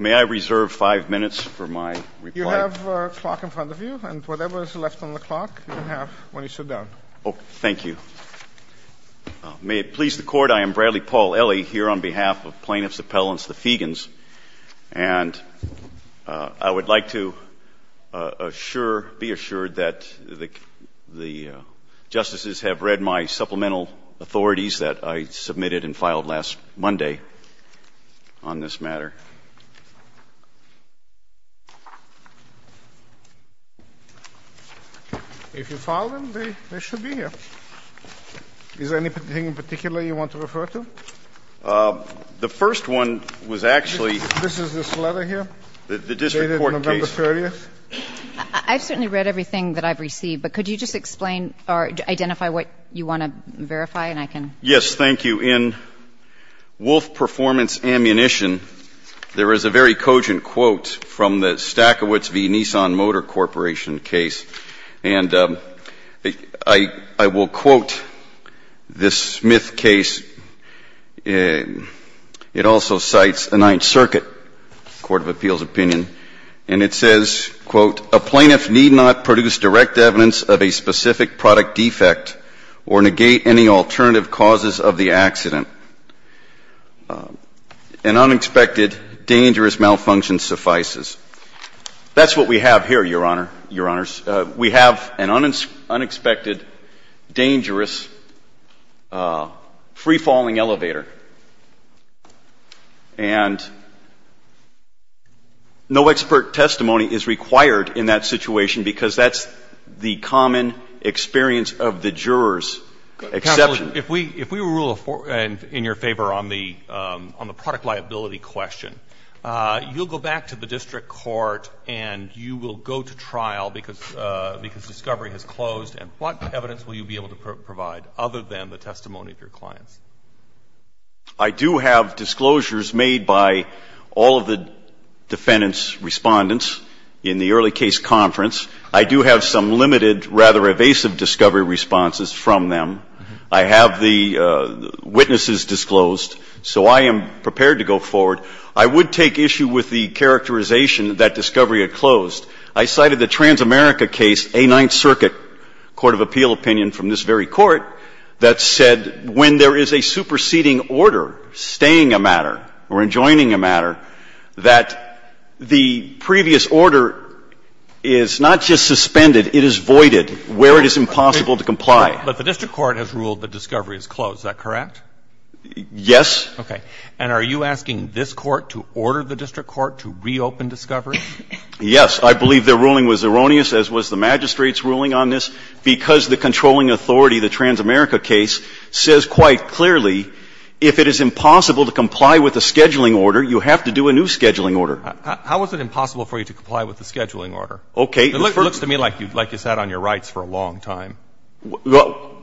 May I reserve five minutes for my reply? You have a clock in front of you, and whatever is left on the clock, you can have when you sit down. Oh, thank you. May it please the Court, I am Bradley Paul Elley here on behalf of plaintiffs' appellants, the Feagins, and I would like to assure, be assured that the justices have read my supplemental authorities that I submitted and filed last Monday on this matter. If you filed them, they should be here. Is there anything in particular you want to refer to? The first one was actually the district court case. I've certainly read everything that I've received, but could you just explain or identify what you want to verify and I can? Yes, thank you. In Wolf Performance Ammunition, there is a very cogent quote from the Stachowicz v. Nissan Motor Corporation case. And I will quote this Smith case. It also cites a Ninth Circuit court of appeals opinion, and it says, quote, a plaintiff need not produce direct evidence of a specific product defect or negate any alternative causes of the accident. An unexpected dangerous malfunction suffices. That's what we have here, Your Honor, Your Honors. We have an unexpected dangerous free-falling elevator. And no expert testimony is required in that situation because that's the common experience of the juror's exception. Counsel, if we rule in your favor on the product liability question, you'll go back to the district court and you will go to trial because discovery has closed, and what evidence will you be able to provide other than the testimony of your clients? I do have disclosures made by all of the defendants' respondents in the early case conference. I do have some limited, rather evasive discovery responses from them. I have the witnesses disclosed. So I am prepared to go forward. I would take issue with the characterization that discovery had closed. I cited the Transamerica case, A Ninth Circuit court of appeal opinion from this very court, that said when there is a superseding order staying a matter or adjoining a matter, that the previous order is not just suspended, it is voided where it is impossible to comply. But the district court has ruled that discovery is closed. Is that correct? Yes. Okay. And are you asking this court to order the district court to reopen discovery? Yes. I believe their ruling was erroneous, as was the magistrate's ruling on this, because the controlling authority, the Transamerica case, says quite clearly if it is impossible to comply with a scheduling order, you have to do a new scheduling order. How is it impossible for you to comply with the scheduling order? Okay. It looks to me like you sat on your rights for a long time. Well,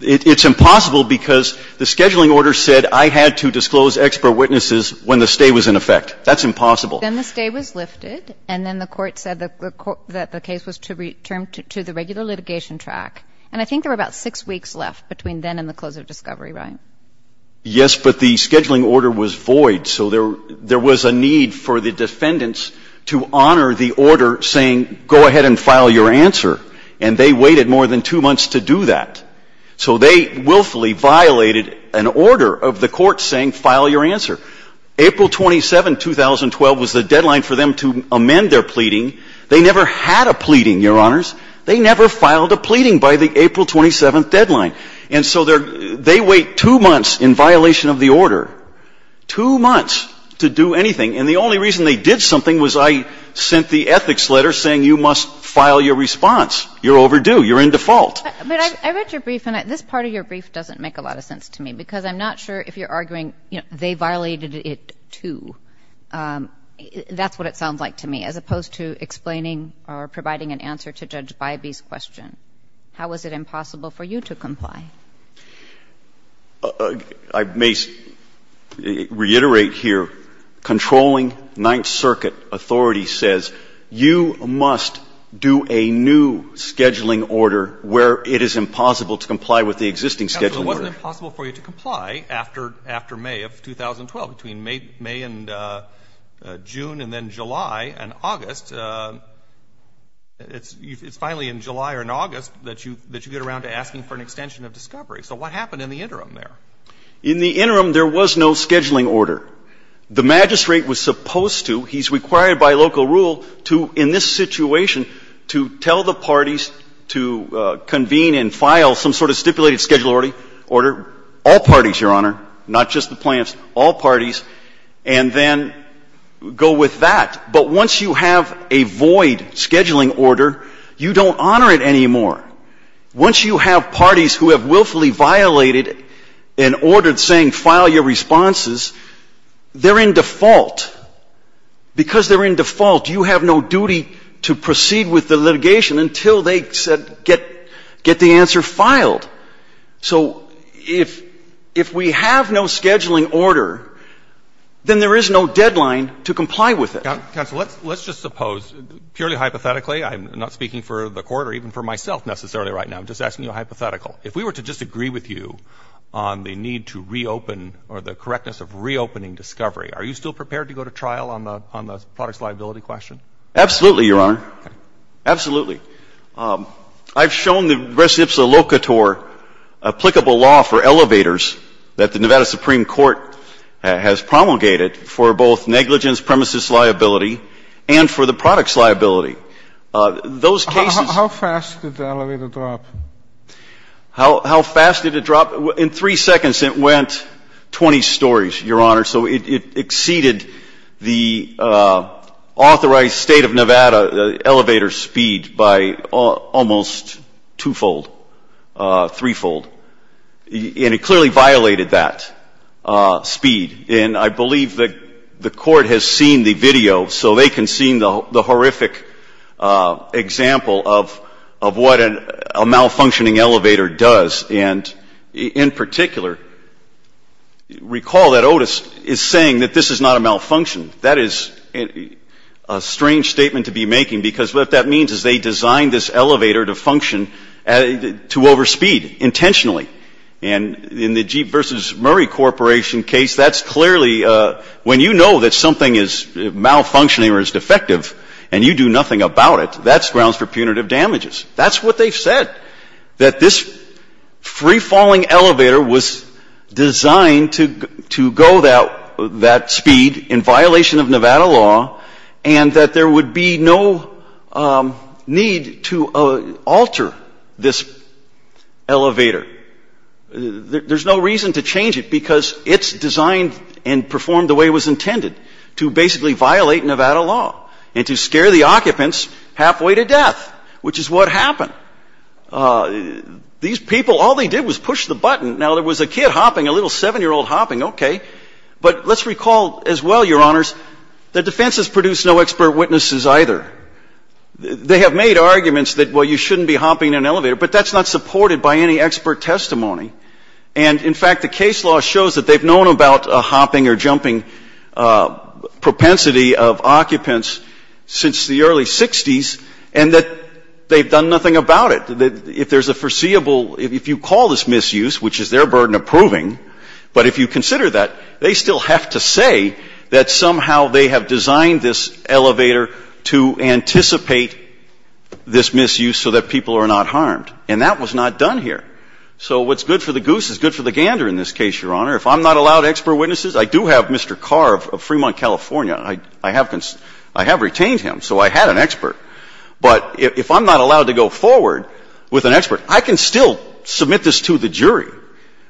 it's impossible because the scheduling order said I had to disclose expert witnesses when the stay was in effect. That's impossible. Then the stay was lifted, and then the Court said that the case was to return to the regular litigation track. And I think there were about 6 weeks left between then and the close of discovery, right? Yes, but the scheduling order was void. So there was a need for the defendants to honor the order saying, go ahead and file your answer. And they waited more than 2 months to do that. So they willfully violated an order of the Court saying file your answer. April 27, 2012, was the deadline for them to amend their pleading. They never had a pleading, Your Honors. They never filed a pleading by the April 27th deadline. And so they wait 2 months in violation of the order, 2 months to do anything. And the only reason they did something was I sent the ethics letter saying you must file your response. You're overdue. You're in default. But I read your brief, and this part of your brief doesn't make a lot of sense to me because I'm not sure if you're arguing, you know, they violated it, too. That's what it sounds like to me, as opposed to explaining or providing an answer to Judge Bybee's question. How was it impossible for you to comply? I may reiterate here, controlling Ninth Circuit authority says you must do whatever scheduling order where it is impossible to comply with the existing scheduling order. It wasn't impossible for you to comply after May of 2012. Between May and June and then July and August, it's finally in July or in August that you get around to asking for an extension of discovery. So what happened in the interim there? In the interim, there was no scheduling order. The magistrate was supposed to, he's required by local rule to, in this situation, to tell the parties to convene and file some sort of stipulated scheduling order, all parties, Your Honor, not just the plaintiffs, all parties, and then go with that. But once you have a void scheduling order, you don't honor it anymore. Once you have parties who have willfully violated an order saying file your responses, they're in default. But because they're in default, you have no duty to proceed with the litigation until they said get the answer filed. So if we have no scheduling order, then there is no deadline to comply with it. Counsel, let's just suppose, purely hypothetically, I'm not speaking for the Court or even for myself necessarily right now. I'm just asking you a hypothetical. If we were to disagree with you on the need to reopen or the correctness of reopening discovery, are you still prepared to go to trial on the products liability question? Absolutely, Your Honor. Okay. Absolutely. I've shown the res ipsa locator applicable law for elevators that the Nevada Supreme Court has promulgated for both negligence, premises liability, and for the products liability. Those cases How fast did the elevator drop? How fast did it drop? In three seconds, it went 20 stories, Your Honor. So it exceeded the authorized State of Nevada elevator speed by almost twofold, threefold. And it clearly violated that speed. And I believe the Court has seen the video, so they can see the horrific example of what a malfunctioning elevator does. And in particular, recall that Otis is saying that this is not a malfunction. That is a strange statement to be making because what that means is they designed this elevator to function to overspeed intentionally. And in the Jeep v. Murray Corporation case, that's clearly when you know that something is malfunctioning or is defective and you do nothing about it, that's grounds for punitive damages. That's what they've said, that this free-falling elevator was designed to go that speed in violation of Nevada law and that there would be no need to alter this elevator. There's no reason to change it because it's designed and performed the way it was intended, to basically violate Nevada law and to scare the occupants halfway to death, which is what happened. These people, all they did was push the button. Now, there was a kid hopping, a little 7-year-old hopping. Okay. But let's recall as well, Your Honors, the defense has produced no expert witnesses either. They have made arguments that, well, you shouldn't be hopping in an elevator, but that's not supported by any expert testimony. And so they have made arguments that there's been a propensity of occupants since the early 60s and that they've done nothing about it. If there's a foreseeable – if you call this misuse, which is their burden of proving, but if you consider that, they still have to say that somehow they have designed this elevator to anticipate this misuse so that people are not harmed. And that was not done here. So what's good for the goose is good for the gander in this case, Your Honor. If I'm not allowed expert witnesses, I do have Mr. Carr of Fremont, California. I have retained him, so I had an expert. But if I'm not allowed to go forward with an expert, I can still submit this to the jury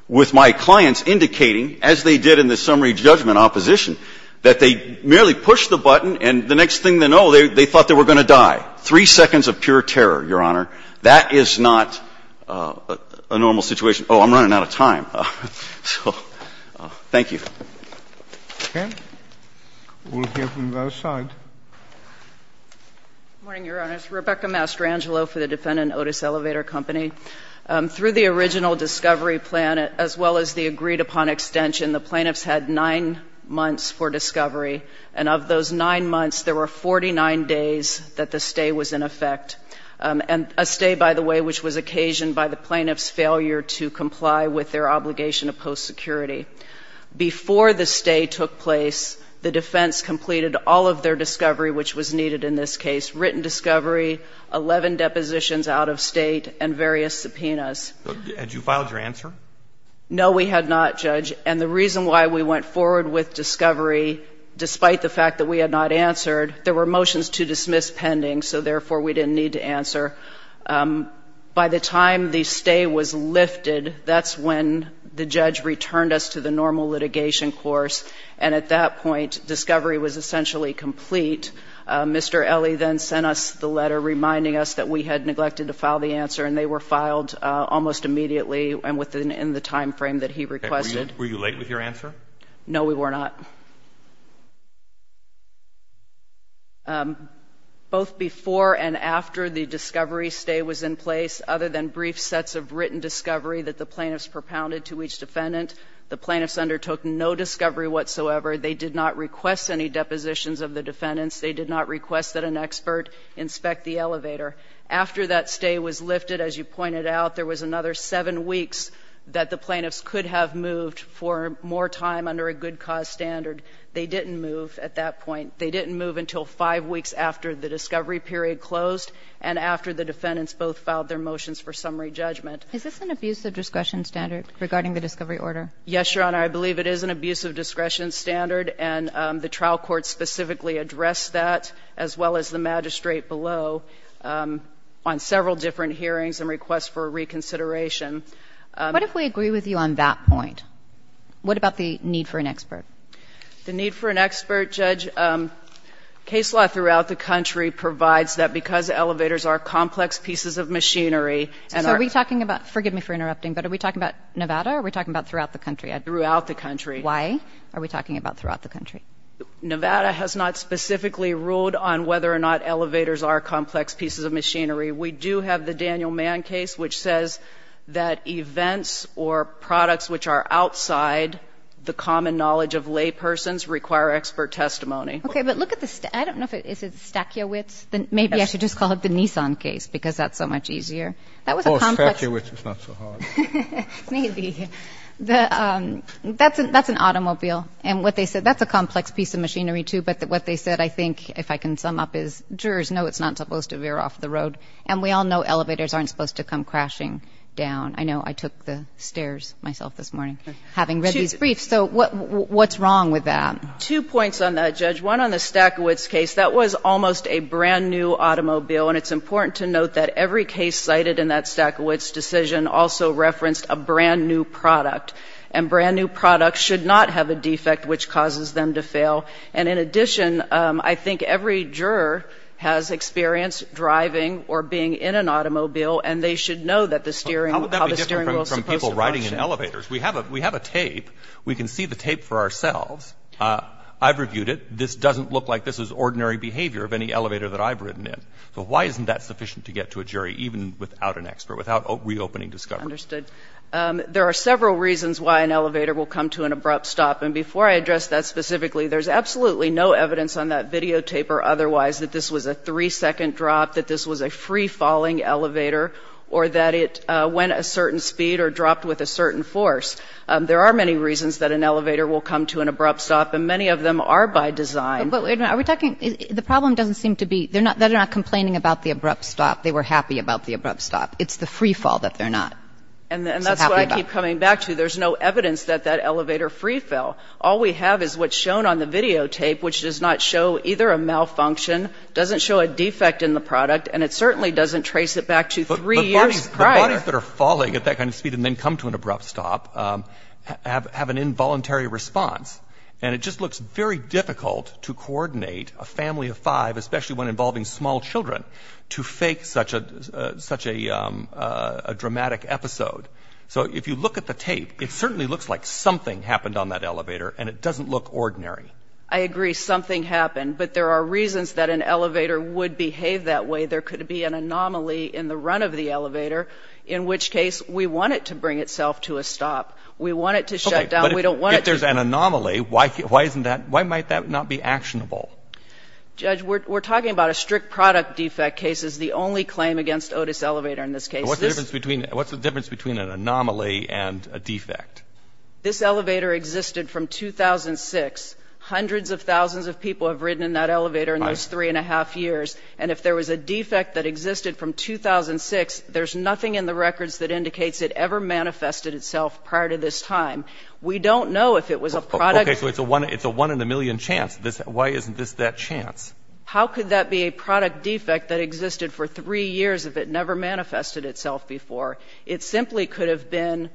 with my clients indicating, as they did in the summary judgment opposition, that they merely pushed the button and the next thing they know, they thought they were going to die. Three seconds of pure terror, Your Honor. That is not a normal situation. Oh, I'm running out of time. Thank you. Okay. We'll hear from the other side. Good morning, Your Honor. It's Rebecca Mastrangelo for the defendant, Otis Elevator Company. Through the original discovery plan, as well as the agreed-upon extension, the plaintiffs had 9 months for discovery, and of those 9 months, there were 49 days that the stay was in effect, and a stay, by the way, which was occasioned by the obligation of post-security. Before the stay took place, the defense completed all of their discovery, which was needed in this case, written discovery, 11 depositions out of state, and various subpoenas. Had you filed your answer? No, we had not, Judge, and the reason why we went forward with discovery, despite the fact that we had not answered, there were motions to dismiss pending, so therefore we didn't need to answer. By the time the stay was lifted, that's when the judge returned us to the normal litigation course, and at that point, discovery was essentially complete. Mr. Ele then sent us the letter reminding us that we had neglected to file the answer, and they were filed almost immediately and within the time frame that he requested. Were you late with your answer? No, we were not. Both before and after the discovery stay was in place, other than brief sets of written discovery that the plaintiffs propounded to each defendant, the plaintiffs undertook no discovery whatsoever. They did not request any depositions of the defendants. They did not request that an expert inspect the elevator. After that stay was lifted, as you pointed out, there was another seven weeks that the plaintiffs could have moved for more time under a good cause standard. They didn't move at that point. They didn't move until five weeks after the discovery period closed and after the defendants both filed their motions for summary judgment. Is this an abuse of discretion standard regarding the discovery order? Yes, Your Honor. I believe it is an abuse of discretion standard, and the trial court specifically addressed that, as well as the magistrate below on several different hearings and requests for reconsideration. What if we agree with you on that point? What about the need for an expert? The need for an expert, Judge, case law throughout the country provides that because elevators are complex pieces of machinery. So are we talking about, forgive me for interrupting, but are we talking about Nevada or are we talking about throughout the country? Throughout the country. Why are we talking about throughout the country? Nevada has not specifically ruled on whether or not elevators are complex pieces of machinery. We do have the Daniel Mann case, which says that events or products which are outside the common knowledge of laypersons require expert testimony. Okay. But look at the, I don't know if it, is it Stachowicz? Maybe I should just call it the Nissan case because that's so much easier. Of course, Stachowicz is not so hard. Maybe. That's an automobile. And what they said, that's a complex piece of machinery, too. But what they said, I think, if I can sum up, is jurors know it's not supposed to veer off the road. And we all know elevators aren't supposed to come crashing down. I know I took the stairs myself this morning having read these briefs. So what's wrong with that? Two points on that, Judge. One, on the Stachowicz case, that was almost a brand-new automobile. And it's important to note that every case cited in that Stachowicz decision also referenced a brand-new product. And brand-new products should not have a defect which causes them to fail. And in addition, I think every juror has experience driving or being in an automobile, and they should know that the steering, how the steering wheel is supposed to function. How would that be different from people riding in elevators? We have a tape. We can see the tape for ourselves. I've reviewed it. This doesn't look like this is ordinary behavior of any elevator that I've ridden in. So why isn't that sufficient to get to a jury, even without an expert, without reopening discovery? Understood. There are several reasons why an elevator will come to an abrupt stop. And before I address that specifically, there's absolutely no evidence on that videotape or otherwise that this was a three-second drop, that this was a free-falling elevator, or that it went a certain speed or dropped with a certain force. There are many reasons that an elevator will come to an abrupt stop, and many of them are by design. But wait a minute. Are we talking the problem doesn't seem to be they're not complaining about the abrupt stop. They were happy about the abrupt stop. It's the free fall that they're not. And that's what I keep coming back to. There's no evidence that that elevator free fell. All we have is what's shown on the videotape, which does not show either a malfunction, doesn't show a defect in the product, and it certainly doesn't trace it back to three years prior. The bodies that are falling at that kind of speed and then come to an abrupt stop have an involuntary response. And it just looks very difficult to coordinate a family of five, especially one involving small children, to fake such a dramatic episode. So if you look at the tape, it certainly looks like something happened on that elevator, and it doesn't look ordinary. I agree. Something happened. But there are reasons that an elevator would behave that way. There could be an anomaly in the run of the elevator, in which case we want it to bring itself to a stop. We want it to shut down. We don't want it to be. Okay. But if there's an anomaly, why isn't that why might that not be actionable? Judge, we're talking about a strict product defect case is the only claim against Otis Elevator in this case. What's the difference between an anomaly and a defect? This elevator existed from 2006. Hundreds of thousands of people have ridden in that elevator in those three and a half years. And if there was a defect that existed from 2006, there's nothing in the records that indicates it ever manifested itself prior to this time. We don't know if it was a product. Okay. So it's a one in a million chance. Why isn't this that chance? How could that be a product defect that existed for three years if it never manifested itself before? It simply could have been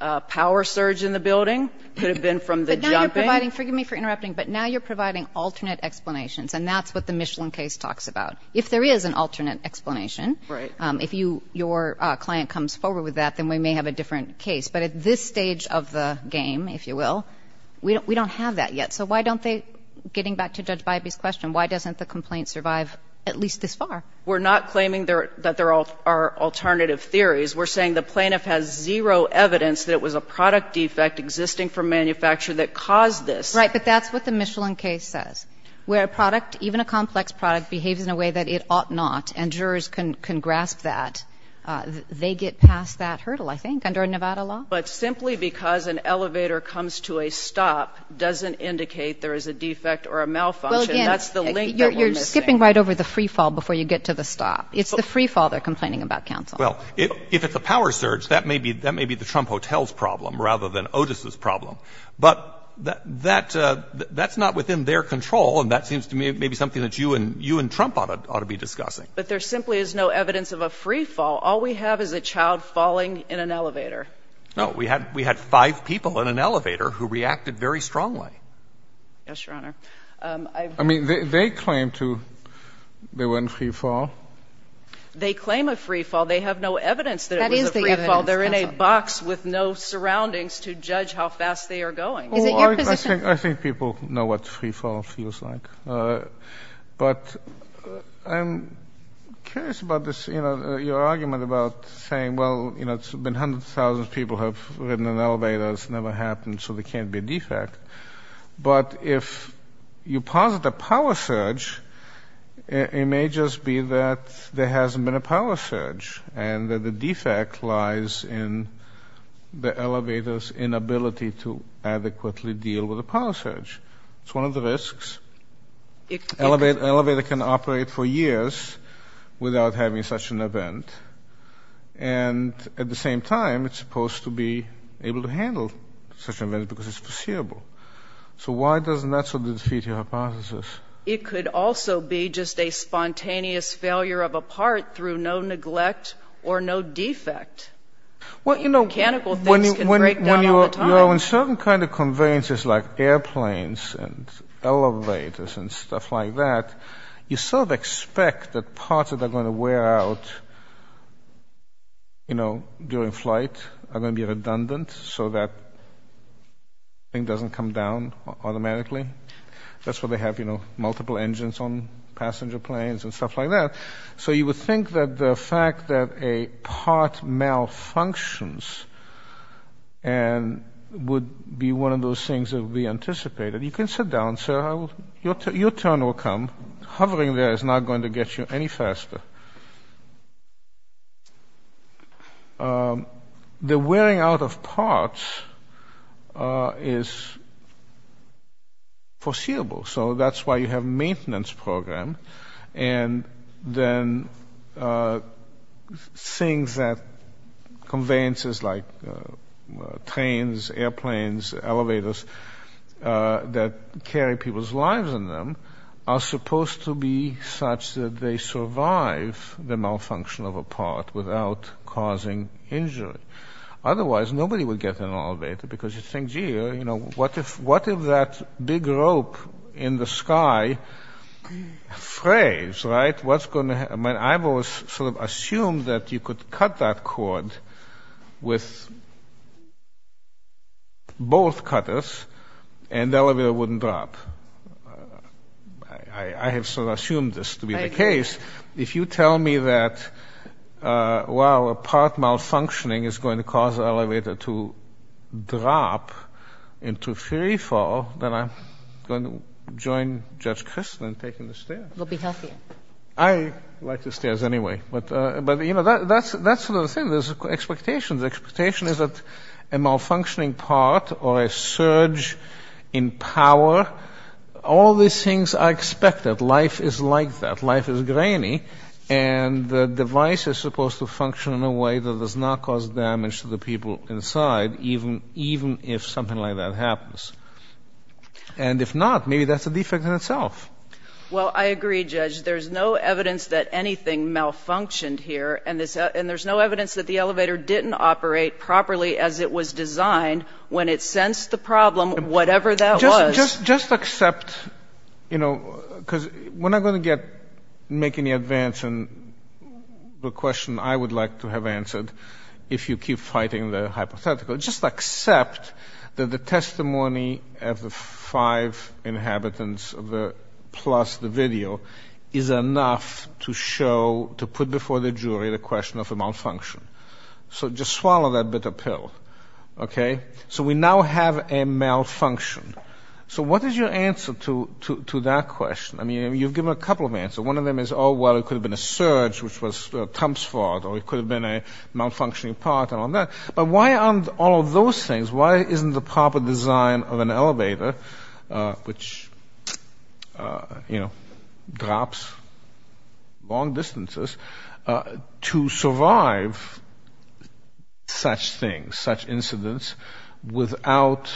a power surge in the building, could have been from the jumping. But now you're providing, forgive me for interrupting, but now you're providing alternate explanations. And that's what the Michelin case talks about. If there is an alternate explanation. Right. If your client comes forward with that, then we may have a different case. But at this stage of the game, if you will, we don't have that yet. So why don't they, getting back to Judge Bybee's question, why doesn't the complaint survive at least this far? We're not claiming that there are alternative theories. We're saying the plaintiff has zero evidence that it was a product defect existing from manufacture that caused this. Right. But that's what the Michelin case says, where a product, even a complex product, behaves in a way that it ought not, and jurors can grasp that. They get past that hurdle, I think, under Nevada law. But simply because an elevator comes to a stop doesn't indicate there is a defect or a malfunction. That's the link that we're missing. Well, again, you're skipping right over the free fall before you get to the stop. It's the free fall they're complaining about, counsel. Well, if it's a power surge, that may be the Trump Hotel's problem rather than Otis's problem. But that's not within their control, and that seems to me maybe something that you and Trump ought to be discussing. But there simply is no evidence of a free fall. All we have is a child falling in an elevator. No. We had five people in an elevator who reacted very strongly. Yes, Your Honor. I mean, they claim they were in free fall. They claim a free fall. They have no evidence that it was a free fall. That is the evidence, counsel. They're in a box with no surroundings to judge how fast they are going. Is it your position? I think people know what free fall feels like. But I'm curious about this, you know, your argument about saying, well, you know, it's been hundreds of thousands of people who have ridden in elevators. It's never happened, so there can't be a defect. But if you posit a power surge, it may just be that there hasn't been a power surge and that the defect lies in the elevator's inability to adequately deal with a power surge. It's one of the risks. An elevator can operate for years without having such an event. And at the same time, it's supposed to be able to handle such an event because it's foreseeable. So why doesn't that sort of defeat your hypothesis? It could also be just a spontaneous failure of a part through no neglect or no defect. Mechanical things can break down all the time. You know, in certain kind of conveyances like airplanes and elevators and stuff like that, you sort of expect that parts that are going to wear out, you know, during flight are going to be redundant so that thing doesn't come down automatically. That's why they have, you know, multiple engines on passenger planes and stuff like that. So you would think that the fact that a part malfunctions would be one of those things that would be anticipated. You can sit down, sir. Your turn will come. Hovering there is not going to get you any faster. The wearing out of parts is foreseeable. So that's why you have maintenance program. And then things that conveyances like trains, airplanes, elevators that carry people's lives in them are supposed to be such that they survive the malfunction of a part without causing injury. Otherwise, nobody would get in an elevator because you'd think, gee, you know, what if that big rope in the sky frays, right? What's going to happen? I've always sort of assumed that you could cut that cord with both cutters and the elevator wouldn't drop. I have sort of assumed this to be the case. If you tell me that, well, a part malfunctioning is going to cause the elevator to drop into free fall, then I'm going to join Judge Kristol in taking the stairs. It will be healthier. I like the stairs anyway. But, you know, that's sort of the thing. There's expectations. The expectation is that a malfunctioning part or a surge in power, all these things are expected. Life is like that. Life is grainy. And the device is supposed to function in a way that does not cause damage to the people inside, even if something like that happens. And if not, maybe that's a defect in itself. Well, I agree, Judge. There's no evidence that anything malfunctioned here, and there's no evidence that the elevator didn't operate properly as it was designed when it sensed the problem, whatever that was. Just accept, you know, because we're not going to make any advance on the question I would like to have answered if you keep fighting the hypothetical. Just accept that the testimony of the five inhabitants plus the video is enough to show, to put before the jury, the question of a malfunction. So just swallow that bitter pill, okay? So we now have a malfunction. So what is your answer to that question? I mean, you've given a couple of answers. One of them is, oh, well, it could have been a surge, which was Trump's fault, or it could have been a malfunctioning part and all that. But why aren't all of those things, why isn't the proper design of an elevator, which, you know, drops long distances, to survive such things, such incidents, without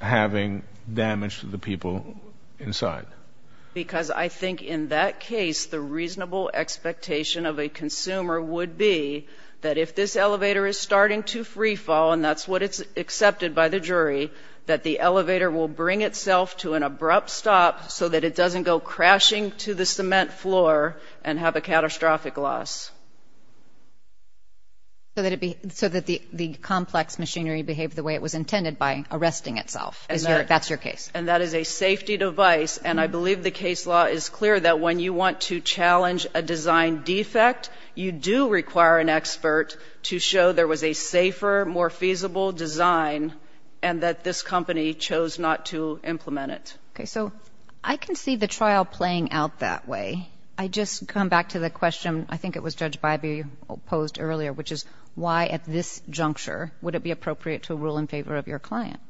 having damage to the people inside? Because I think in that case, the reasonable expectation of a consumer would be that if this elevator is starting to freefall, and that's what is accepted by the jury, that the elevator will bring itself to an abrupt stop so that it doesn't go crashing to the cement floor and have a catastrophic loss. So that the complex machinery behaved the way it was intended by arresting itself. That's your case. And that is a safety device. And I believe the case law is clear that when you want to challenge a design defect, you do require an expert to show there was a safer, more feasible design, and that this company chose not to implement it. Okay. So I can see the trial playing out that way. I just come back to the question, I think it was Judge Bybee posed earlier, which is why at this juncture would it be appropriate to rule in favor of your client?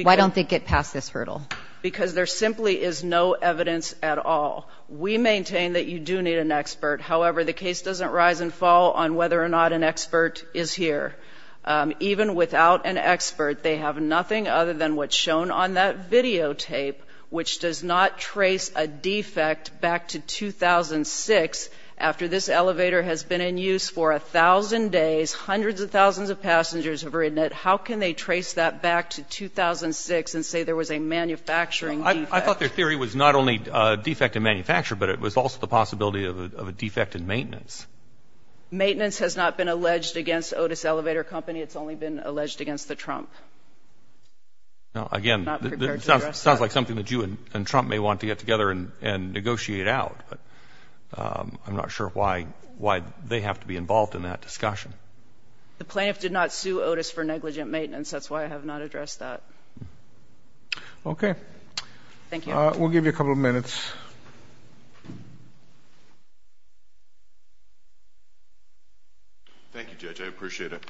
Why don't they get past this hurdle? Because there simply is no evidence at all. We maintain that you do need an expert. However, the case doesn't rise and fall on whether or not an expert is here. Even without an expert, they have nothing other than what's shown on that videotape, which does not trace a defect back to 2006 after this elevator has been in use for a thousand days. Hundreds of thousands of passengers have ridden it. How can they trace that back to 2006 and say there was a manufacturing defect? I thought their theory was not only defect in manufacture, but it was also the possibility of a defect in maintenance. Maintenance has not been alleged against Otis Elevator Company. It's only been alleged against the Trump. Again, it sounds like something that you and Trump may want to get together and negotiate out. I'm not sure why they have to be involved in that discussion. The plaintiff did not sue Otis for negligent maintenance. That's why I have not addressed that. Okay. Thank you. We'll give you a couple of minutes. Thank you, Judge. I appreciate it.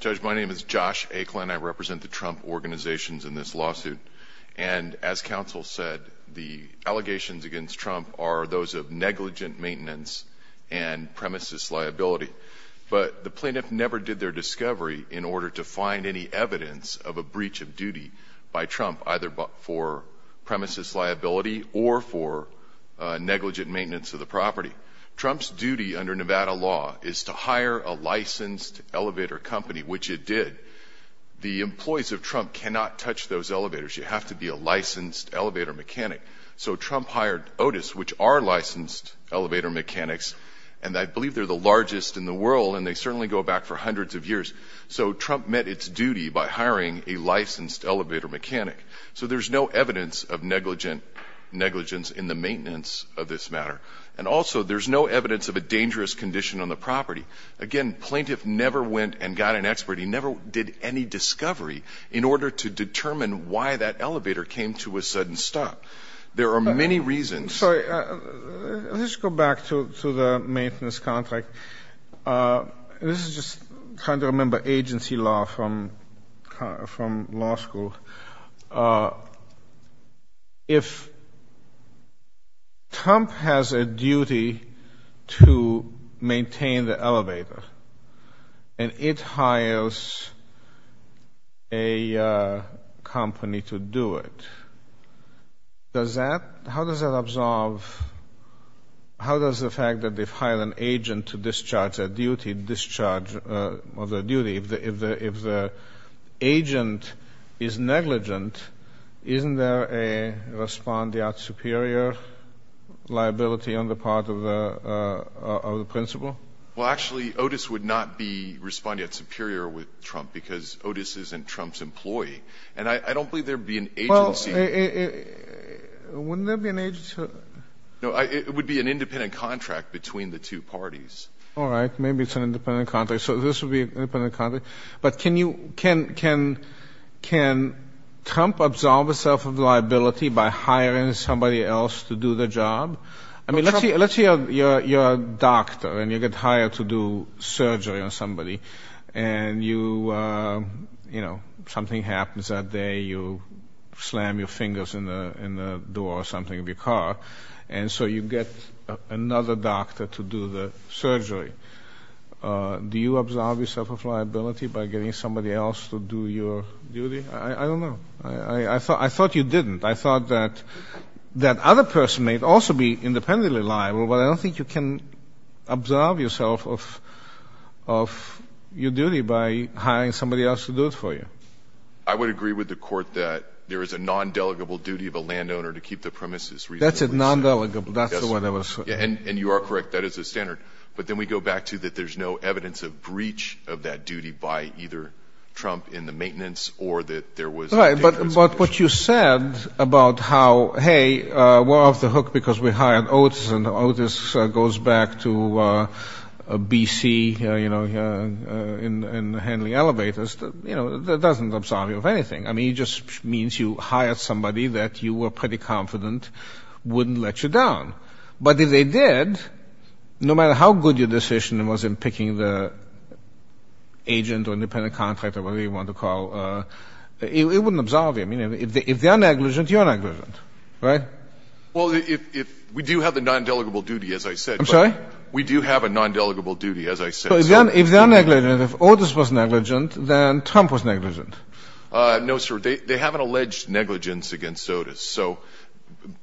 Judge, my name is Josh Aiklin. I represent the Trump organizations in this lawsuit. And as counsel said, the allegations against Trump are those of negligent maintenance and premises liability. But the plaintiff never did their discovery in order to find any evidence of a breach of duty by Trump, either for premises liability or for negligent maintenance of the property. Trump's duty under Nevada law is to hire a licensed elevator company, which it did. The employees of Trump cannot touch those elevators. You have to be a licensed elevator mechanic. So Trump hired Otis, which are licensed elevator mechanics. And I believe they're the largest in the world, and they certainly go back for hundreds of years. So Trump met its duty by hiring a licensed elevator mechanic. So there's no evidence of negligence in the maintenance of this matter. And also, there's no evidence of a dangerous condition on the property. Again, plaintiff never went and got an expert. He never did any discovery in order to determine why that elevator came to a sudden stop. There are many reasons. Let's go back to the maintenance contract. This is just trying to remember agency law from law school. If Trump has a duty to maintain the elevator and it hires a company to do it, how does that absolve, how does the fact that they've hired an agent to discharge their duty, discharge of their duty, if the agent is negligent, isn't there a respondeat superior liability on the part of the principal? Well, actually, Otis would not be respondeat superior with Trump because Otis isn't Trump's employee. And I don't believe there would be an agency. Well, wouldn't there be an agency? No, it would be an independent contract between the two parties. All right. Maybe it's an independent contract. So this would be an independent contract. But can Trump absolve himself of liability by hiring somebody else to do the job? I mean, let's say you're a doctor and you get hired to do surgery on somebody. And you, you know, something happens that day, you slam your fingers in the door or something of your car, and so you get another doctor to do the surgery. Do you absolve yourself of liability by getting somebody else to do your duty? I don't know. I thought you didn't. I thought that that other person may also be independently liable, but I don't think you can absolve yourself of your duty by hiring somebody else to do it for you. I would agree with the court that there is a non-delegable duty of a landowner to keep the premises reasonably safe. That's a non-delegable. That's what I was saying. And you are correct. That is a standard. But then we go back to that there's no evidence of breach of that duty by either Trump in the maintenance or that there was a dangerous situation. Right. But what you said about how, hey, we're off the hook because we hired Otis, and Otis goes back to B.C. in handling elevators, you know, that doesn't absolve you of anything. I mean, it just means you hired somebody that you were pretty confident wouldn't let you down. But if they did, no matter how good your decision was in picking the agent or independent contractor, whatever you want to call it, it wouldn't absolve you. I mean, if they're negligent, you're negligent. Right? Well, we do have the non-delegable duty, as I said. I'm sorry? We do have a non-delegable duty, as I said. So if they're negligent, if Otis was negligent, then Trump was negligent. No, sir. They haven't alleged negligence against Otis. So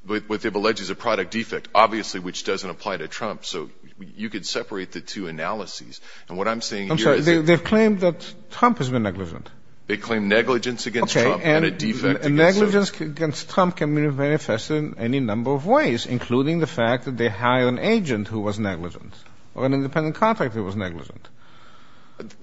what they've alleged is a product defect, obviously, which doesn't apply to Trump. So you could separate the two analyses. And what I'm saying here is that they've claimed that Trump has been negligent. They claim negligence against Trump and a defect against Otis. Okay. And negligence against Trump can be manifested in any number of ways, including the fact that they hired an agent who was negligent or an independent contractor who was negligent.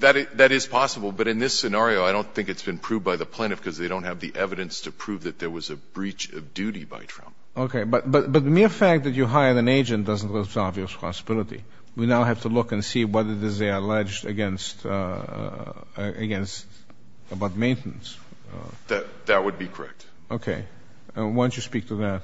That is possible. But in this scenario, I don't think it's been proved by the plaintiff because they don't have the evidence to prove that there was a breach of duty by Trump. Okay. But the mere fact that you hired an agent doesn't absolve you of responsibility. We now have to look and see whether this is alleged against maintenance. That would be correct. Okay. Why don't you speak to that?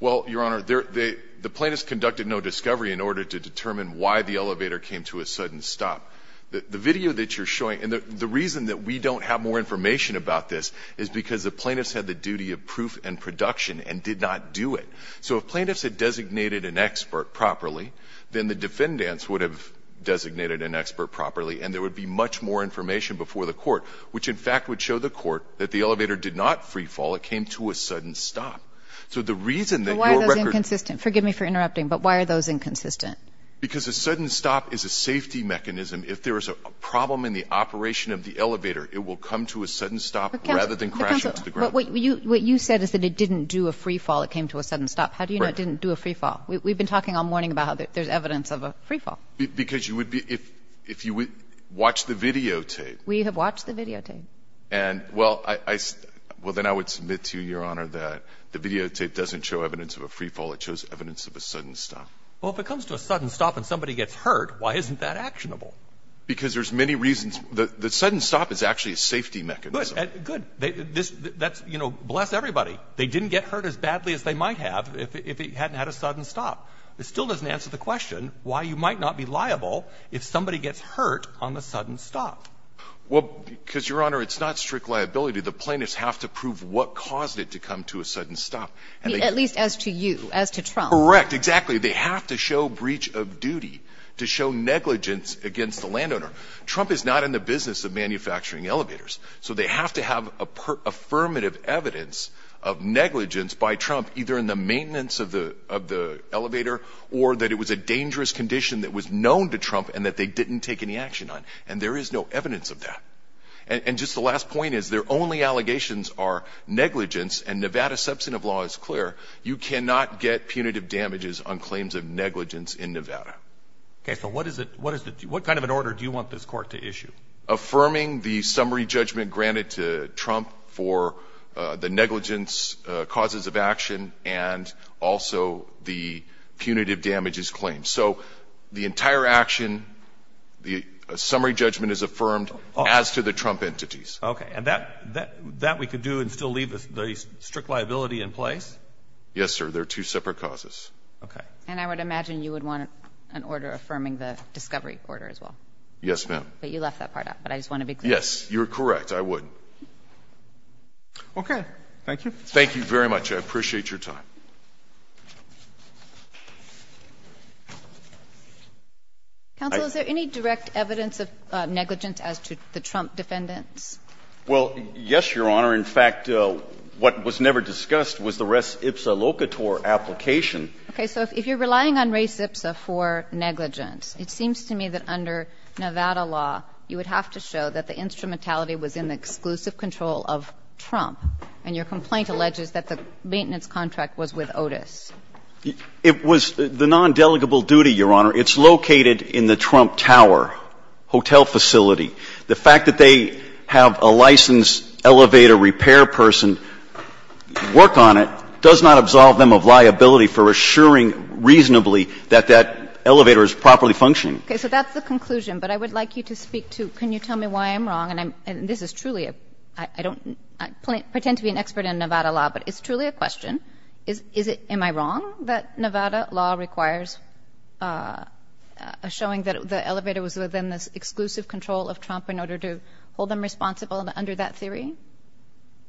Well, Your Honor, the plaintiffs conducted no discovery in order to determine why the elevator came to a sudden stop. The video that you're showing, and the reason that we don't have more information about this is because the plaintiffs had the duty of proof and production and did not do it. So if plaintiffs had designated an expert properly, then the defendants would have designated an expert properly and there would be much more information before the court, which in fact would show the court that the elevator did not freefall. It came to a sudden stop. So the reason that your record — But why are those inconsistent? Forgive me for interrupting, but why are those inconsistent? Because a sudden stop is a safety mechanism. If there is a problem in the operation of the elevator, it will come to a sudden stop rather than crash into the ground. But what you said is that it didn't do a freefall. It came to a sudden stop. How do you know it didn't do a freefall? We've been talking all morning about how there's evidence of a freefall. Because you would be — if you watch the videotape. We have watched the videotape. And well, I — well, then I would submit to you, Your Honor, that the videotape doesn't show evidence of a freefall. It shows evidence of a sudden stop. Well, if it comes to a sudden stop and somebody gets hurt, why isn't that actionable? Because there's many reasons. The sudden stop is actually a safety mechanism. Good. That's — you know, bless everybody. They didn't get hurt as badly as they might have if it hadn't had a sudden stop. It still doesn't answer the question why you might not be liable if somebody gets hurt on the sudden stop. Well, because, Your Honor, it's not strict liability. The plaintiffs have to prove what caused it to come to a sudden stop. I mean, at least as to you, as to Trump. Correct. Exactly. They have to show breach of duty to show negligence against the landowner. Trump is not in the business of manufacturing elevators. So they have to have affirmative evidence of negligence by Trump, either in the maintenance of the elevator or that it was a dangerous condition that was known to Trump and that they didn't take any action on. And there is no evidence of that. And just the last point is their only allegations are negligence, and Nevada's substantive law is clear. You cannot get punitive damages on claims of negligence in Nevada. So what kind of an order do you want this court to issue? Affirming the summary judgment granted to Trump for the negligence causes of action and also the punitive damages claim. So the entire action, the summary judgment is affirmed as to the Trump entities. Okay. And that we could do and still leave the strict liability in place? Yes, sir. They're two separate causes. Okay. And I would imagine you would want an order affirming the discovery order as well. Yes, ma'am. But you left that part out, but I just want to be clear. Yes, you're correct. I would. Okay. Thank you. Thank you very much. I appreciate your time. Counsel, is there any direct evidence of negligence as to the Trump defendants? Well, yes, Your Honor. In fact, what was never discussed was the res ipsa locator application. Okay. So if you're relying on res ipsa for negligence, it seems to me that under Nevada law you would have to show that the instrumentality was in the exclusive control of Trump, and your complaint alleges that the maintenance contract was with Otis. It was the non-delegable duty, Your Honor. It's located in the Trump Tower hotel facility. The fact that they have a licensed elevator repair person work on it does not absolve them of liability for assuring reasonably that that elevator is properly functioning. Okay. So that's the conclusion. But I would like you to speak to can you tell me why I'm wrong, and this is truly a ‑‑ I don't ‑‑ I pretend to be an expert in Nevada law, but it's truly a question. Am I wrong that Nevada law requires showing that the elevator was within the exclusive control of Trump in order to hold them responsible under that theory?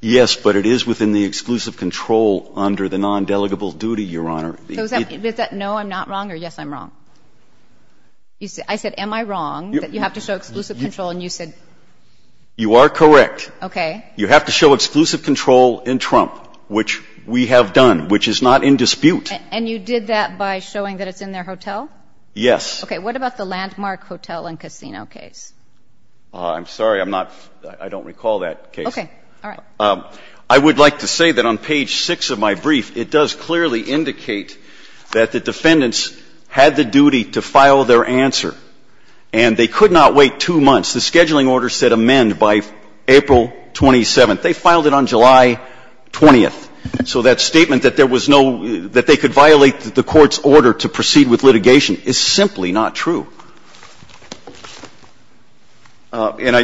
Yes, but it is within the exclusive control under the non‑delegable duty, Your Honor. So is that no, I'm not wrong, or yes, I'm wrong? I said am I wrong that you have to show exclusive control, and you said ‑‑ You are correct. Okay. You have to show exclusive control in Trump, which we have done, which is not in dispute. And you did that by showing that it's in their hotel? Yes. Okay. What about the landmark hotel and casino case? I'm sorry. I'm not ‑‑ I don't recall that case. Okay. All right. I would like to say that on page 6 of my brief, it does clearly indicate that the defendants had the duty to file their answer, and they could not wait two months. The scheduling order said amend by April 27th. They filed it on July 20th. So that statement that there was no ‑‑ that they could violate the court's order to proceed with litigation is simply not true. And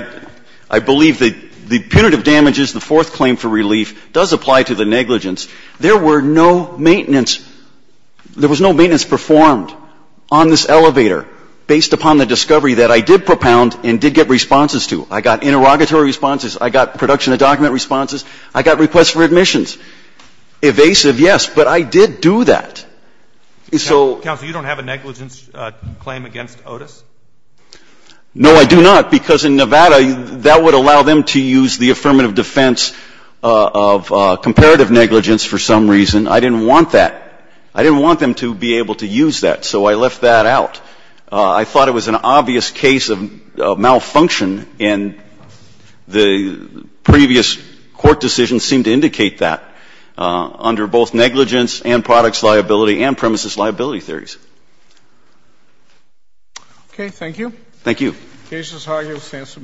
I believe that the punitive damages, the fourth claim for relief, does apply to the negligence. There were no maintenance ‑‑ there was no maintenance performed on this elevator based upon the discovery that I did propound and did get responses to. I got interrogatory responses. I got production of document responses. I got requests for admissions. Evasive, yes, but I did do that. So ‑‑ Counsel, you don't have a negligence claim against Otis? No, I do not, because in Nevada, that would allow them to use the affirmative defense of comparative negligence for some reason. I didn't want that. I didn't want them to be able to use that, so I left that out. I thought it was an obvious case of malfunction, and the previous court decisions seem to indicate that under both negligence and products liability and premises liability theories. Okay. Thank you. Thank you. The case is argued in a sense of minutes.